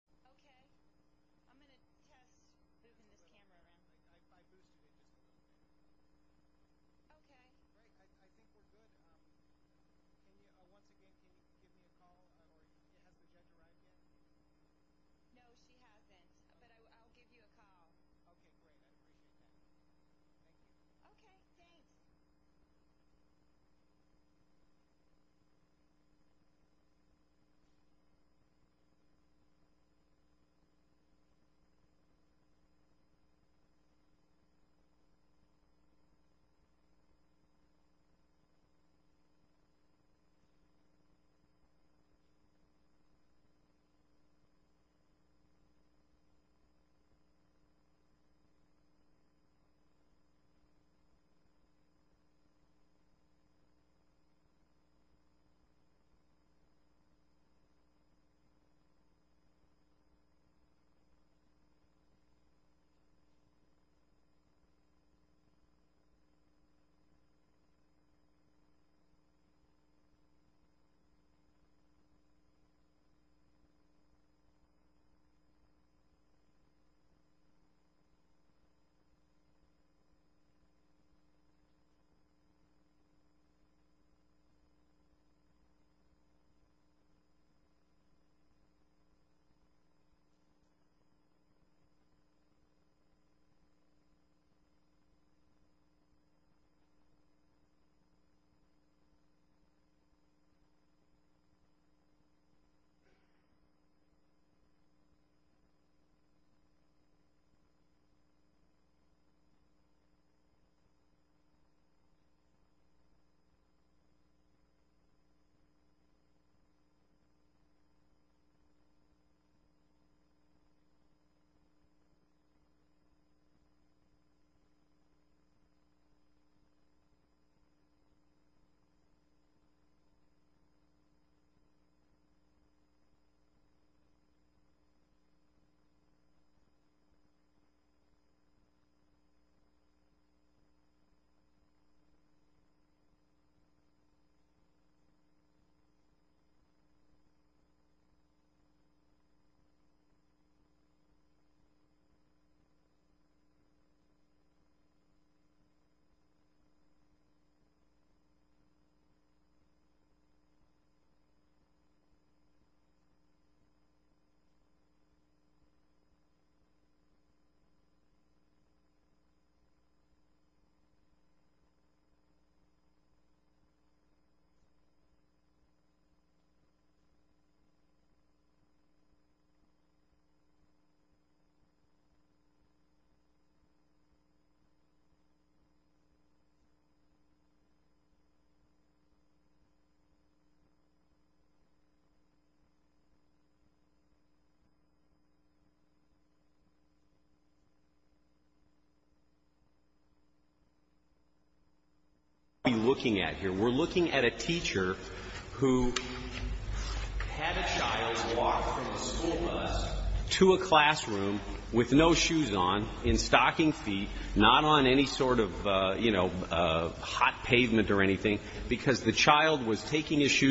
Okay,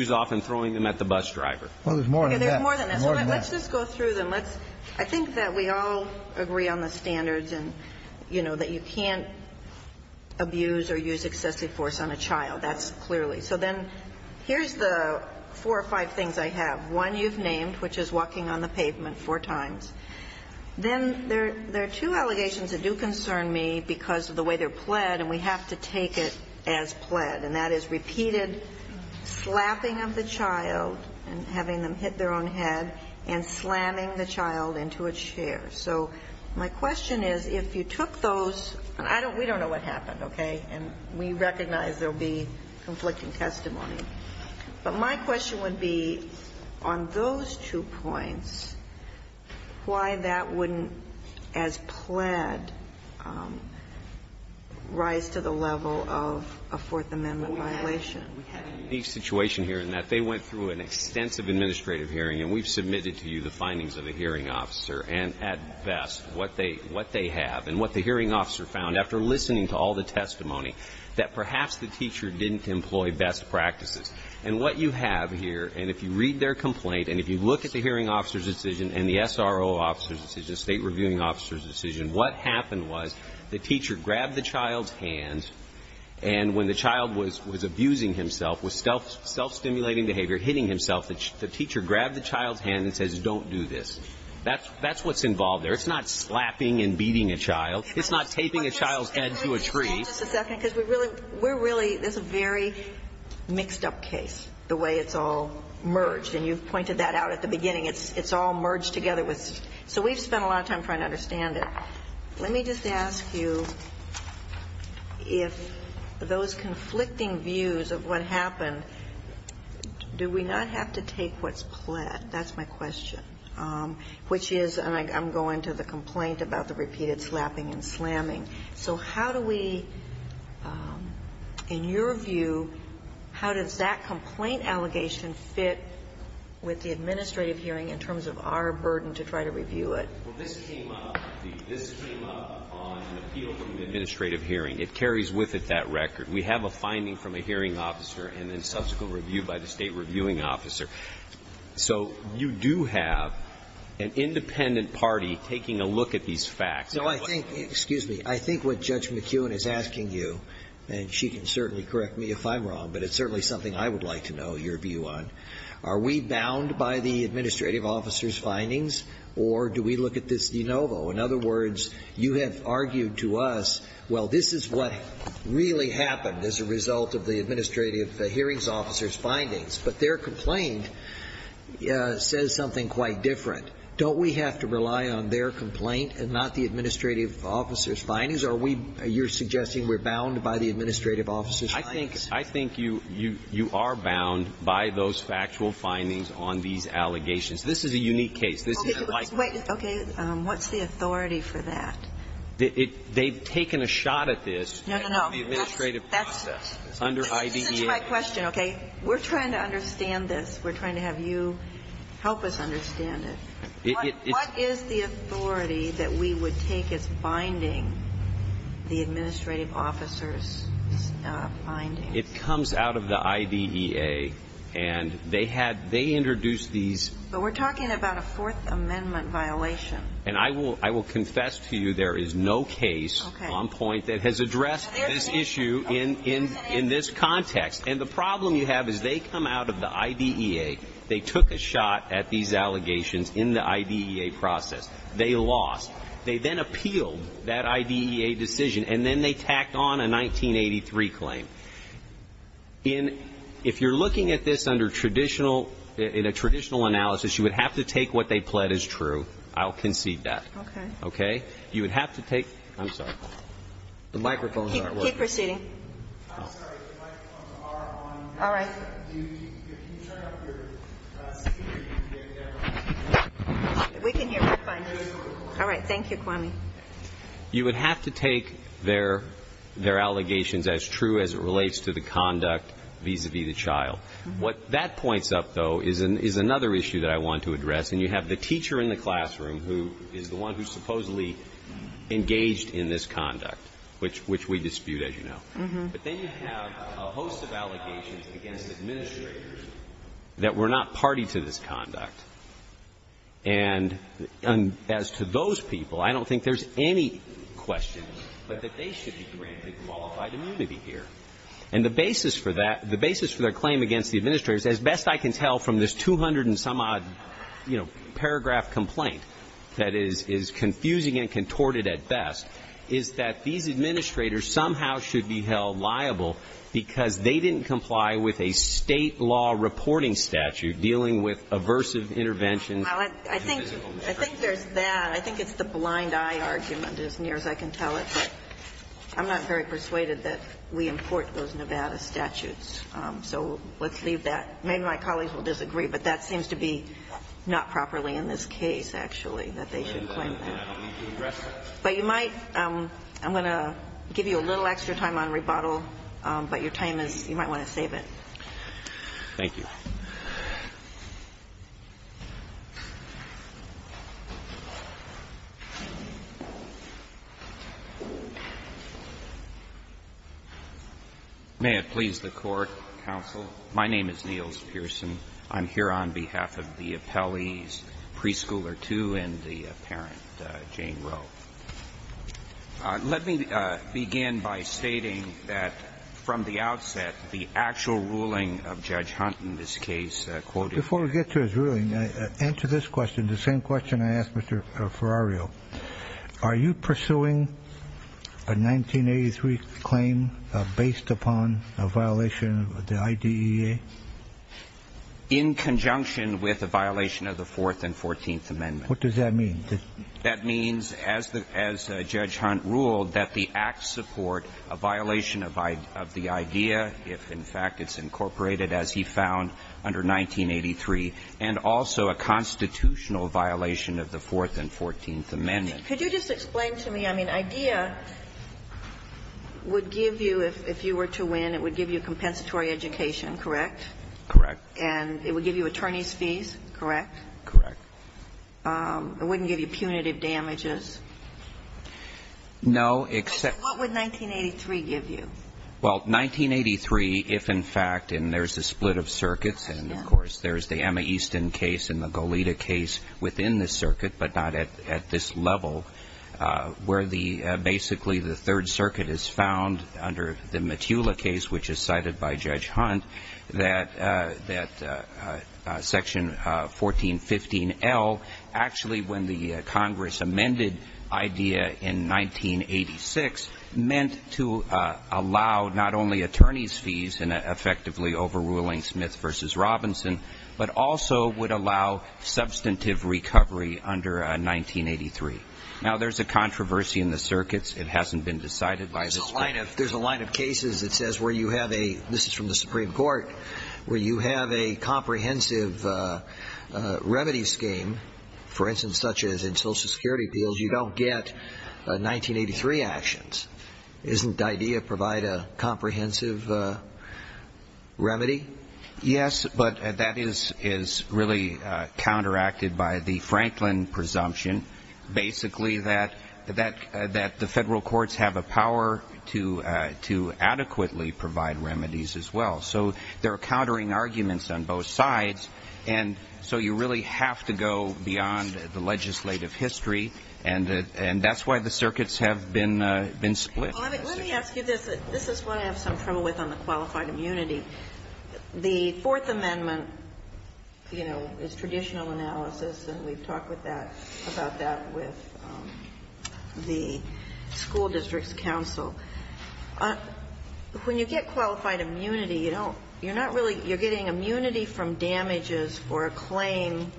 I'm going to check if you can handle it. That's my duty. Okay. Okay. Thank you. I love you. I'm sorry. I love you very much. No problem. So I'll give you a call as soon as I can. Okay. Thanks. Bye-bye. Thank you. Bye-bye. Bye-bye. Bye-bye. Bye-bye. Bye-bye. Okay, there's more than that. There's more than that. Let's just go through them. I think that we all agree on the standards that you can't abuse or use excessive force on a child. That's clearly. So then here's the four or five things I have. One, you've named, which is walking on the pavement four times. Then there are two allegations that do concern me because of the way they're pled, and we have to take it as pled, and that is repeated slapping of the child and having them hit their own head and slamming the child into a chair. So my question is, if you took those, and we don't know what happened, okay, and we recognize there will be conflicting testimony. But my question would be, on those two points, why that wouldn't, as pled, rise to the level of a Fourth Amendment violation? We have a unique situation here in that they went through an extensive administrative hearing, and we've submitted to you the findings of the hearing officer and, at best, what they have and what the hearing officer found after listening to all the testimony, that perhaps the teacher didn't employ best practices. And what you have here, and if you read their complaint, and if you look at the hearing officer's decision and the SRO officer's decision, state reviewing officer's decision, what happened was the teacher grabbed the child's hand, and when the child was abusing himself, was self-stimulating behavior, hitting himself, the teacher grabbed the child's hand and said, don't do this. That's what's involved there. It's not slapping and beating a child. It's not taping a child's head to a tree. Can we just stand just a second? Because we're really ñ there's a very mixed-up case, the way it's all merged. And you've pointed that out at the beginning. It's all merged together with ñ so we've spent a lot of time trying to understand it. Let me just ask you if those conflicting views of what happened, do we not have to take what's pled? That's my question, which is, and I'm going to the complaint about the repeated slapping and slamming. So how do we, in your view, how does that complaint allegation fit with the administrative hearing in terms of our burden to try to review it? Well, this came up. This came up on an appeal from the administrative hearing. It carries with it that record. We have a finding from a hearing officer and then subsequent review by the state reviewing officer. So you do have an independent party taking a look at these facts. No, I think ñ excuse me. I think what Judge McKeown is asking you, and she can certainly correct me if I'm wrong, but it's certainly something I would like to know your view on. Are we bound by the administrative officer's findings, or do we look at this de novo? In other words, you have argued to us, well, this is what really happened as a result of the administrative hearing officer's findings. But their complaint says something quite different. Don't we have to rely on their complaint and not the administrative officer's findings? Are we ñ you're suggesting we're bound by the administrative officer's findings? I think you are bound by those factual findings on these allegations. This is a unique case. This is a likely case. Okay. What's the authority for that? They've taken a shot at this. No, no, no. That's ñ that's ñ Under IDEA. This is my question, okay? We're trying to understand this. We're trying to have you help us understand it. What is the authority that we would take as binding the administrative officer's findings? It comes out of the IDEA, and they had ñ they introduced these ñ But we're talking about a Fourth Amendment violation. And I will ñ I will confess to you there is no case on point that has addressed this issue in this context. And the problem you have is they come out of the IDEA. They took a shot at these allegations in the IDEA process. They lost. They then appealed that IDEA decision, and then they tacked on a 1983 claim. In ñ if you're looking at this under traditional ñ in a traditional analysis, you would have to take what they pled as true. I'll concede that. Okay. Okay? You would have to take ñ I'm sorry. The microphones aren't working. Keep proceeding. I'm sorry. The microphones are on. All right. Can you turn up your speaker? We can hear you fine. All right. Thank you, Kwame. You would have to take their ñ their allegations as true as it relates to the conduct vis-a-vis the child. What that points up, though, is another issue that I want to address. And you have the teacher in the classroom who is the one who supposedly engaged in this conduct, which we dispute, as you know. But then you have a host of allegations against administrators that were not party to this conduct. And as to those people, I don't think there's any question but that they should be granted qualified immunity here. And the basis for that ñ the basis for their claim against the administrators, as best I can tell from this 200-and-some-odd, you know, paragraph complaint that is confusing and contorted at best, is that these administrators somehow should be held liable because they didn't comply with a State law reporting statute dealing with aversive interventions. Well, I think there's that. I think it's the blind-eye argument, as near as I can tell it. But I'm not very persuaded that we import those Nevada statutes. So let's leave that. Maybe my colleagues will disagree, but that seems to be not properly in this case, actually, that they should claim that. But you might ñ I'm going to give you a little extra time on rebuttal. But your time is ñ you might want to save it. Thank you. May it please the Court, counsel. My name is Niels Pearson. I'm here on behalf of the appellee's preschooler, too, and the parent, Jane Rowe. Let me begin by stating that from the outset, the actual ruling of Judge Hunt in this case quoted ñ Before we get to his ruling, answer this question, the same question I asked Mr. Ferrario. Are you pursuing a 1983 claim based upon a violation of the IDEA? In conjunction with a violation of the Fourth and Fourteenth Amendments. What does that mean? That means, as Judge Hunt ruled, that the acts support a violation of the IDEA if, in fact, it's incorporated, as he found under 1983, and also a constitutional violation of the Fourth and Fourteenth Amendments. Could you just explain to me ñ I mean, IDEA would give you ñ if you were to win, it would give you a compensatory education, correct? Correct. And it would give you attorney's fees, correct? Correct. It wouldn't give you punitive damages? No, except ñ What would 1983 give you? Well, 1983, if in fact ñ and there's a split of circuits, and, of course, there's the Emma Easton case and the Goleta case within the circuit, but not at this level, where the ñ basically, the Third Circuit has found, under the Metula case, which is cited by Judge Hunt, that Section 1415L, actually, when the Congress amended IDEA in 1986, meant to allow not only attorney's fees in effectively overruling Smith v. Robinson, but also would allow substantive recovery under 1983. Now, there's a controversy in the circuits. It hasn't been decided by the ñ There's a line of cases that says where you have a ñ this is from the Supreme Court ñ where you have a comprehensive remedy scheme, for instance, such as in Social Security appeals, you don't get 1983 actions. Isn't IDEA provide a comprehensive remedy? Yes, but that is really counteracted by the Franklin presumption, basically, that the Federal courts have a power to adequately provide remedies as well. So there are countering arguments on both sides, and so you really have to go beyond the legislative history, and that's why the circuits have been split. Well, let me ask you this. This is what I have some trouble with on the qualified immunity. The Fourth Amendment, you know, is traditional analysis, and we've talked about that with the school districts council. When you get qualified immunity, you don't ñ you're not really ñ you're getting immunity from damages or a claim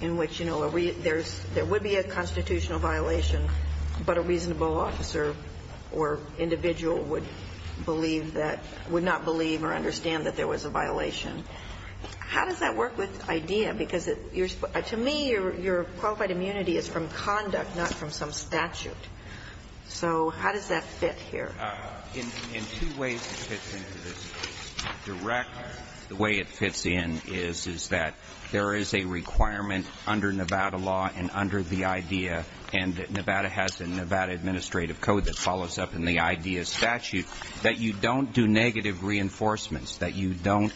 in which, you know, there's ñ there would be a constitutional violation, but a reasonable officer or individual would believe that ñ would not believe or understand that there was a violation. How does that work with IDEA? Because it ñ to me, your qualified immunity is from conduct, not from some statute. So how does that fit here? In two ways it fits into this. Directly, the way it fits in is, is that there is a requirement under Nevada law and under the IDEA, and Nevada has the Nevada Administrative Code that follows up in the IDEA statute, that you don't do negative reinforcements, that you don't,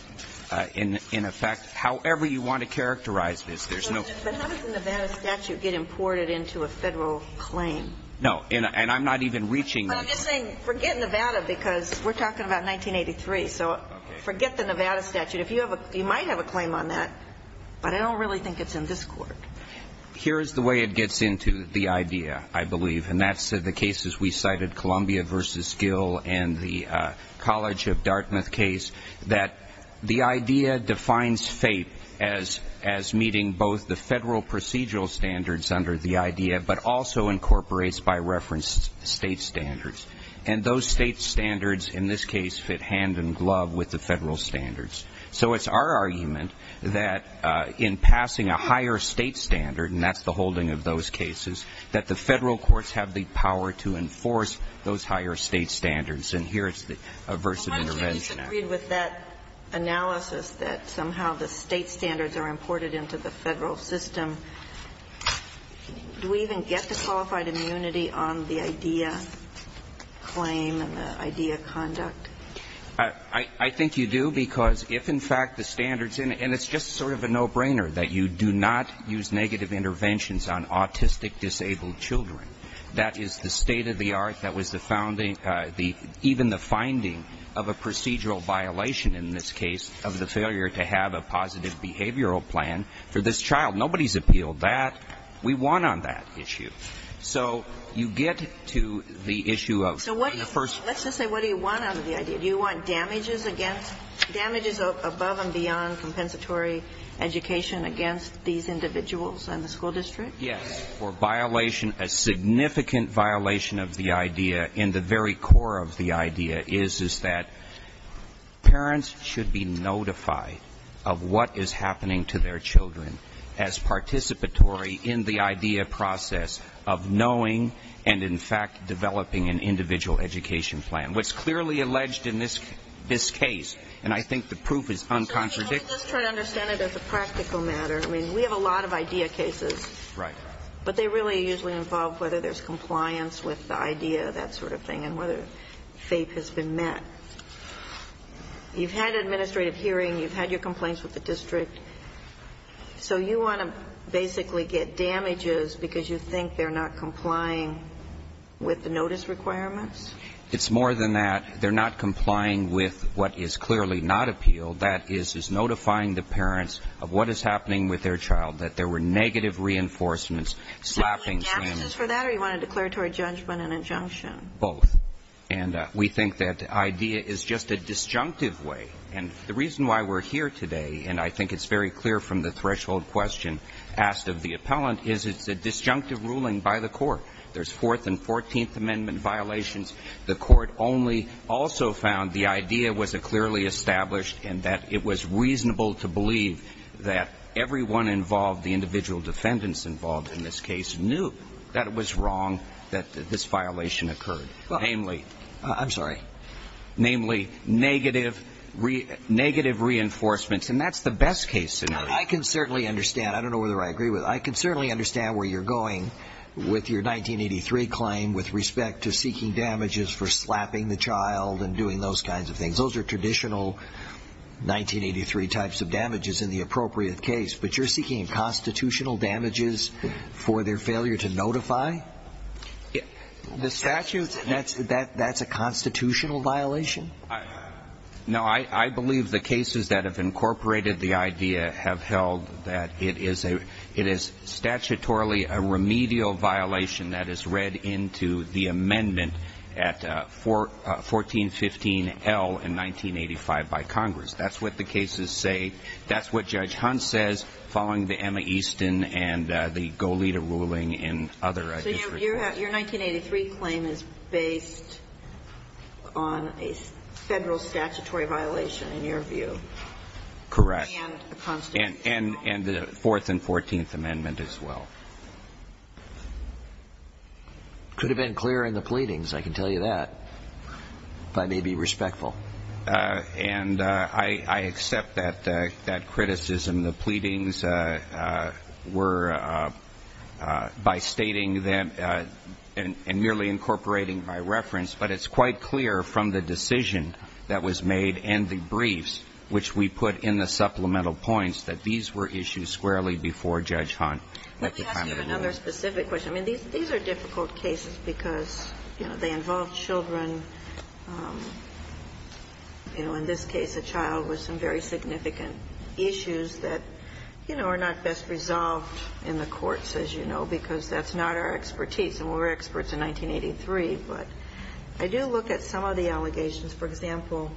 in effect, however you want to characterize this, there's no ñ But how does the Nevada statute get imported into a Federal claim? No. And I'm not even reaching ñ But I'm just saying, forget Nevada, because we're talking about 1983. So forget the Nevada statute. If you have a ñ you might have a claim on that, but I don't really think it's in this Court. Here's the way it gets into the IDEA, I believe, and that's the cases we cited, Columbia v. Gill and the College of Dartmouth case, that the IDEA defines FAPE as meeting both the Federal procedural standards under the IDEA, but also incorporates by reference State standards. And those State standards, in this case, fit hand-in-glove with the Federal standards. So it's our argument that in passing a higher State standard, and that's the holding of those cases, that the Federal courts have the power to enforce those higher State standards. And here's the Aversive Intervention Act. Well, aren't you disagreed with that analysis, that somehow the State standards are imported into the Federal system? Do we even get the qualified immunity on the IDEA claim and the IDEA conduct? I think you do, because if, in fact, the standards ñ and it's just sort of a no-brainer that you do not use negative interventions on autistic disabled children. That is the state of the art that was the founding ñ even the finding of a procedural violation, in this case, of the failure to have a positive behavioral plan for this particular child. And we want to appeal that. We won on that issue. So you get to the issue of ñ So what do you ñ let's just say, what do you want out of the IDEA? Do you want damages against ñ damages above and beyond compensatory education against these individuals and the school district? Yes. For violation ñ a significant violation of the IDEA in the very core of the IDEA is, is that parents should be notified of what is happening to their children as participatory in the IDEA process of knowing and, in fact, developing an individual education plan. What's clearly alleged in this case, and I think the proof is uncontradictory ñ Well, let's try to understand it as a practical matter. I mean, we have a lot of IDEA cases. Right. But they really usually involve whether there's compliance with the IDEA, that sort of thing, and whether FAPE has been met. You've had administrative hearing. You've had your complaints with the district. So you want to basically get damages because you think they're not complying with the notice requirements? It's more than that. They're not complying with what is clearly not appealed. That is, is notifying the parents of what is happening with their child, that there were negative reinforcements slapping them. Do you want damages for that, or do you want a declaratory judgment and injunction? Both. And we think that IDEA is just a disjunctive way. And the reason why we're here today, and I think it's very clear from the threshold question asked of the appellant, is it's a disjunctive ruling by the Court. There's Fourth and Fourteenth Amendment violations. The Court only also found the IDEA was clearly established and that it was reasonable to believe that everyone involved, the individual defendants involved in this case, knew that it was wrong that this violation occurred, namely negative reinforcements. And that's the best case scenario. I can certainly understand. I don't know whether I agree with it. I can certainly understand where you're going with your 1983 claim with respect to seeking damages for slapping the child and doing those kinds of things. Those are traditional 1983 types of damages in the appropriate case. But you're seeking constitutional damages for their failure to notify? The statute, that's a constitutional violation? No. I believe the cases that have incorporated the IDEA have held that it is statutorily a remedial violation that is read into the amendment at 1415L in 1985 by Congress. That's what the cases say. That's what Judge Hunt says following the Emma Easton and the Goleta ruling and other district cases. So your 1983 claim is based on a Federal statutory violation in your view? Correct. And a constitutional violation? And the Fourth and Fourteenth Amendment as well. Could have been clearer in the pleadings, I can tell you that, if I may be respectful. And I accept that criticism. The pleadings were by stating them and merely incorporating by reference. But it's quite clear from the decision that was made and the briefs which we put in the supplemental points that these were issues squarely before Judge Hunt. Let me ask you another specific question. I mean, these are difficult cases because, you know, they involve children. You know, in this case, a child with some very significant issues that, you know, are not best resolved in the courts, as you know, because that's not our expertise. And we were experts in 1983. But I do look at some of the allegations. For example,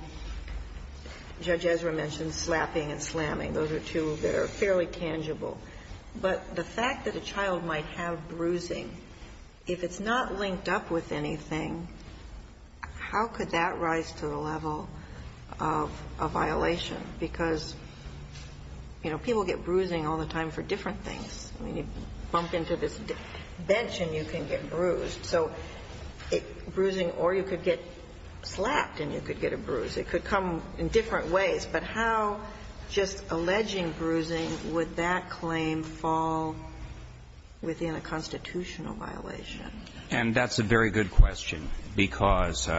Judge Ezra mentioned slapping and slamming. Those are two that are fairly tangible. But the fact that a child might have bruising, if it's not linked up with anything, how could that rise to the level of a violation? Because, you know, people get bruising all the time for different things. I mean, you bump into this bench and you can get bruised. So bruising or you could get slapped and you could get a bruise. It could come in different ways. But how, just alleging bruising, would that claim fall within a constitutional violation? And that's a very good question, because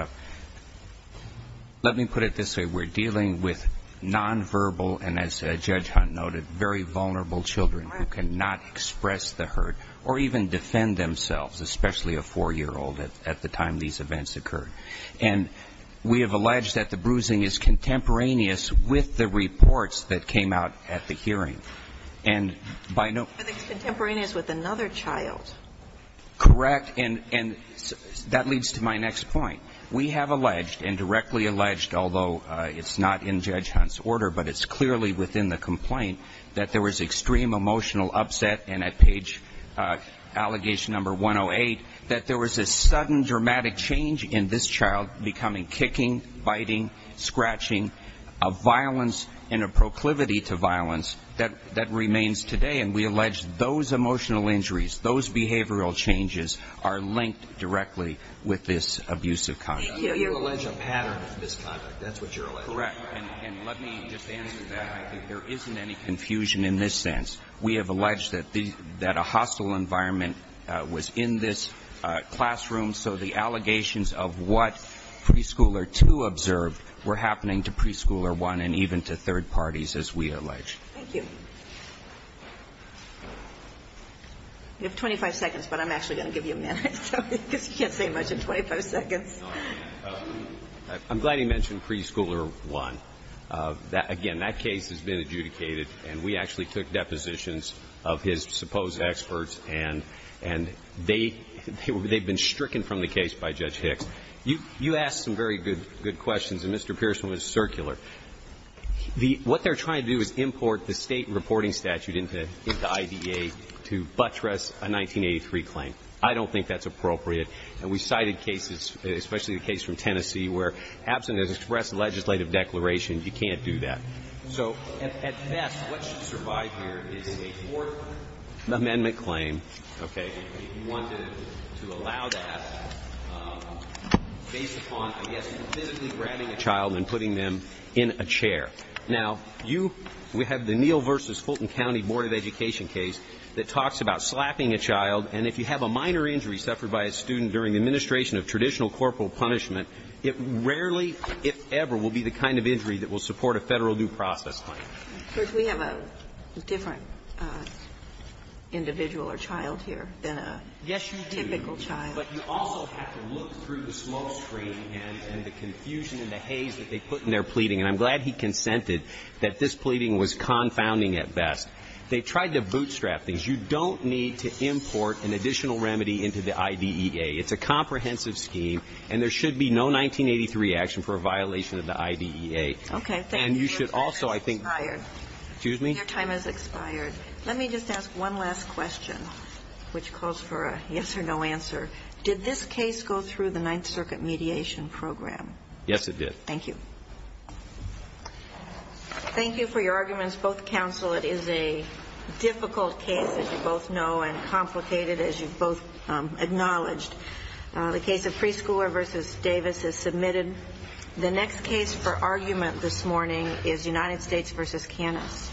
let me put it this way. We're dealing with nonverbal and, as Judge Hunt noted, very vulnerable children who cannot express the hurt or even defend themselves, especially a 4-year-old at the time these events occurred. And we have alleged that the bruising is contemporaneous with the reports that came out at the hearing. And by no ---- But it's contemporaneous with another child. Correct. And that leads to my next point. We have alleged and directly alleged, although it's not in Judge Hunt's order, but it's clearly within the complaint, that there was extreme emotional upset. And at page, allegation number 108, that there was a sudden dramatic change in this child becoming kicking, biting, scratching, a violence in a proclivity to violence that remains today. And we allege those emotional injuries, those behavioral changes, are linked directly with this abusive conduct. You allege a pattern of misconduct. That's what you're alleging. Correct. And let me just answer that. I think there isn't any confusion in this sense. We have alleged that a hostile environment was in this classroom, so the allegations of what Preschooler 2 observed were happening to Preschooler 1 and even to third parties, as we allege. Thank you. You have 25 seconds, but I'm actually going to give you a minute, because you can't say much in 25 seconds. I'm glad you mentioned Preschooler 1. Again, that case has been adjudicated, and we actually took depositions of his supposed experts, and they've been stricken from the case by Judge Hicks. You asked some very good questions, and Mr. Pearson was circular. What they're trying to do is import the state reporting statute into IDA to buttress a 1983 claim. I don't think that's appropriate. And we cited cases, especially the case from Tennessee, where absent has expressed a legislative declaration, you can't do that. So, at best, what should survive here is a Fourth Amendment claim, okay, if you wanted to allow that based upon, I guess, physically grabbing a child and putting them in a chair. Now, we have the Neal v. Fulton County Board of Education case that talks about slapping a child, and if you have a minor injury suffered by a student during the administration of traditional corporal punishment, it rarely, if ever, will be the kind of injury that will support a Federal due process claim. But we have a different individual or child here than a typical child. Yes, you do. But you also have to look through the smoke screen and the confusion and the haze that they put in their pleading. And I'm glad he consented that this pleading was confounding at best. They tried to bootstrap things. You don't need to import an additional remedy into the IDEA. It's a comprehensive scheme, and there should be no 1983 action for a violation of the IDEA. Okay. And you should also, I think. Your time has expired. Excuse me? Your time has expired. Let me just ask one last question, which calls for a yes or no answer. Did this case go through the Ninth Circuit mediation program? Yes, it did. Thank you. Thank you for your arguments. Both counsel, it is a difficult case, as you both know, and complicated, as you both acknowledged. The case of Preschooler v. Davis is submitted. The next case for argument this morning is United States v. Canis.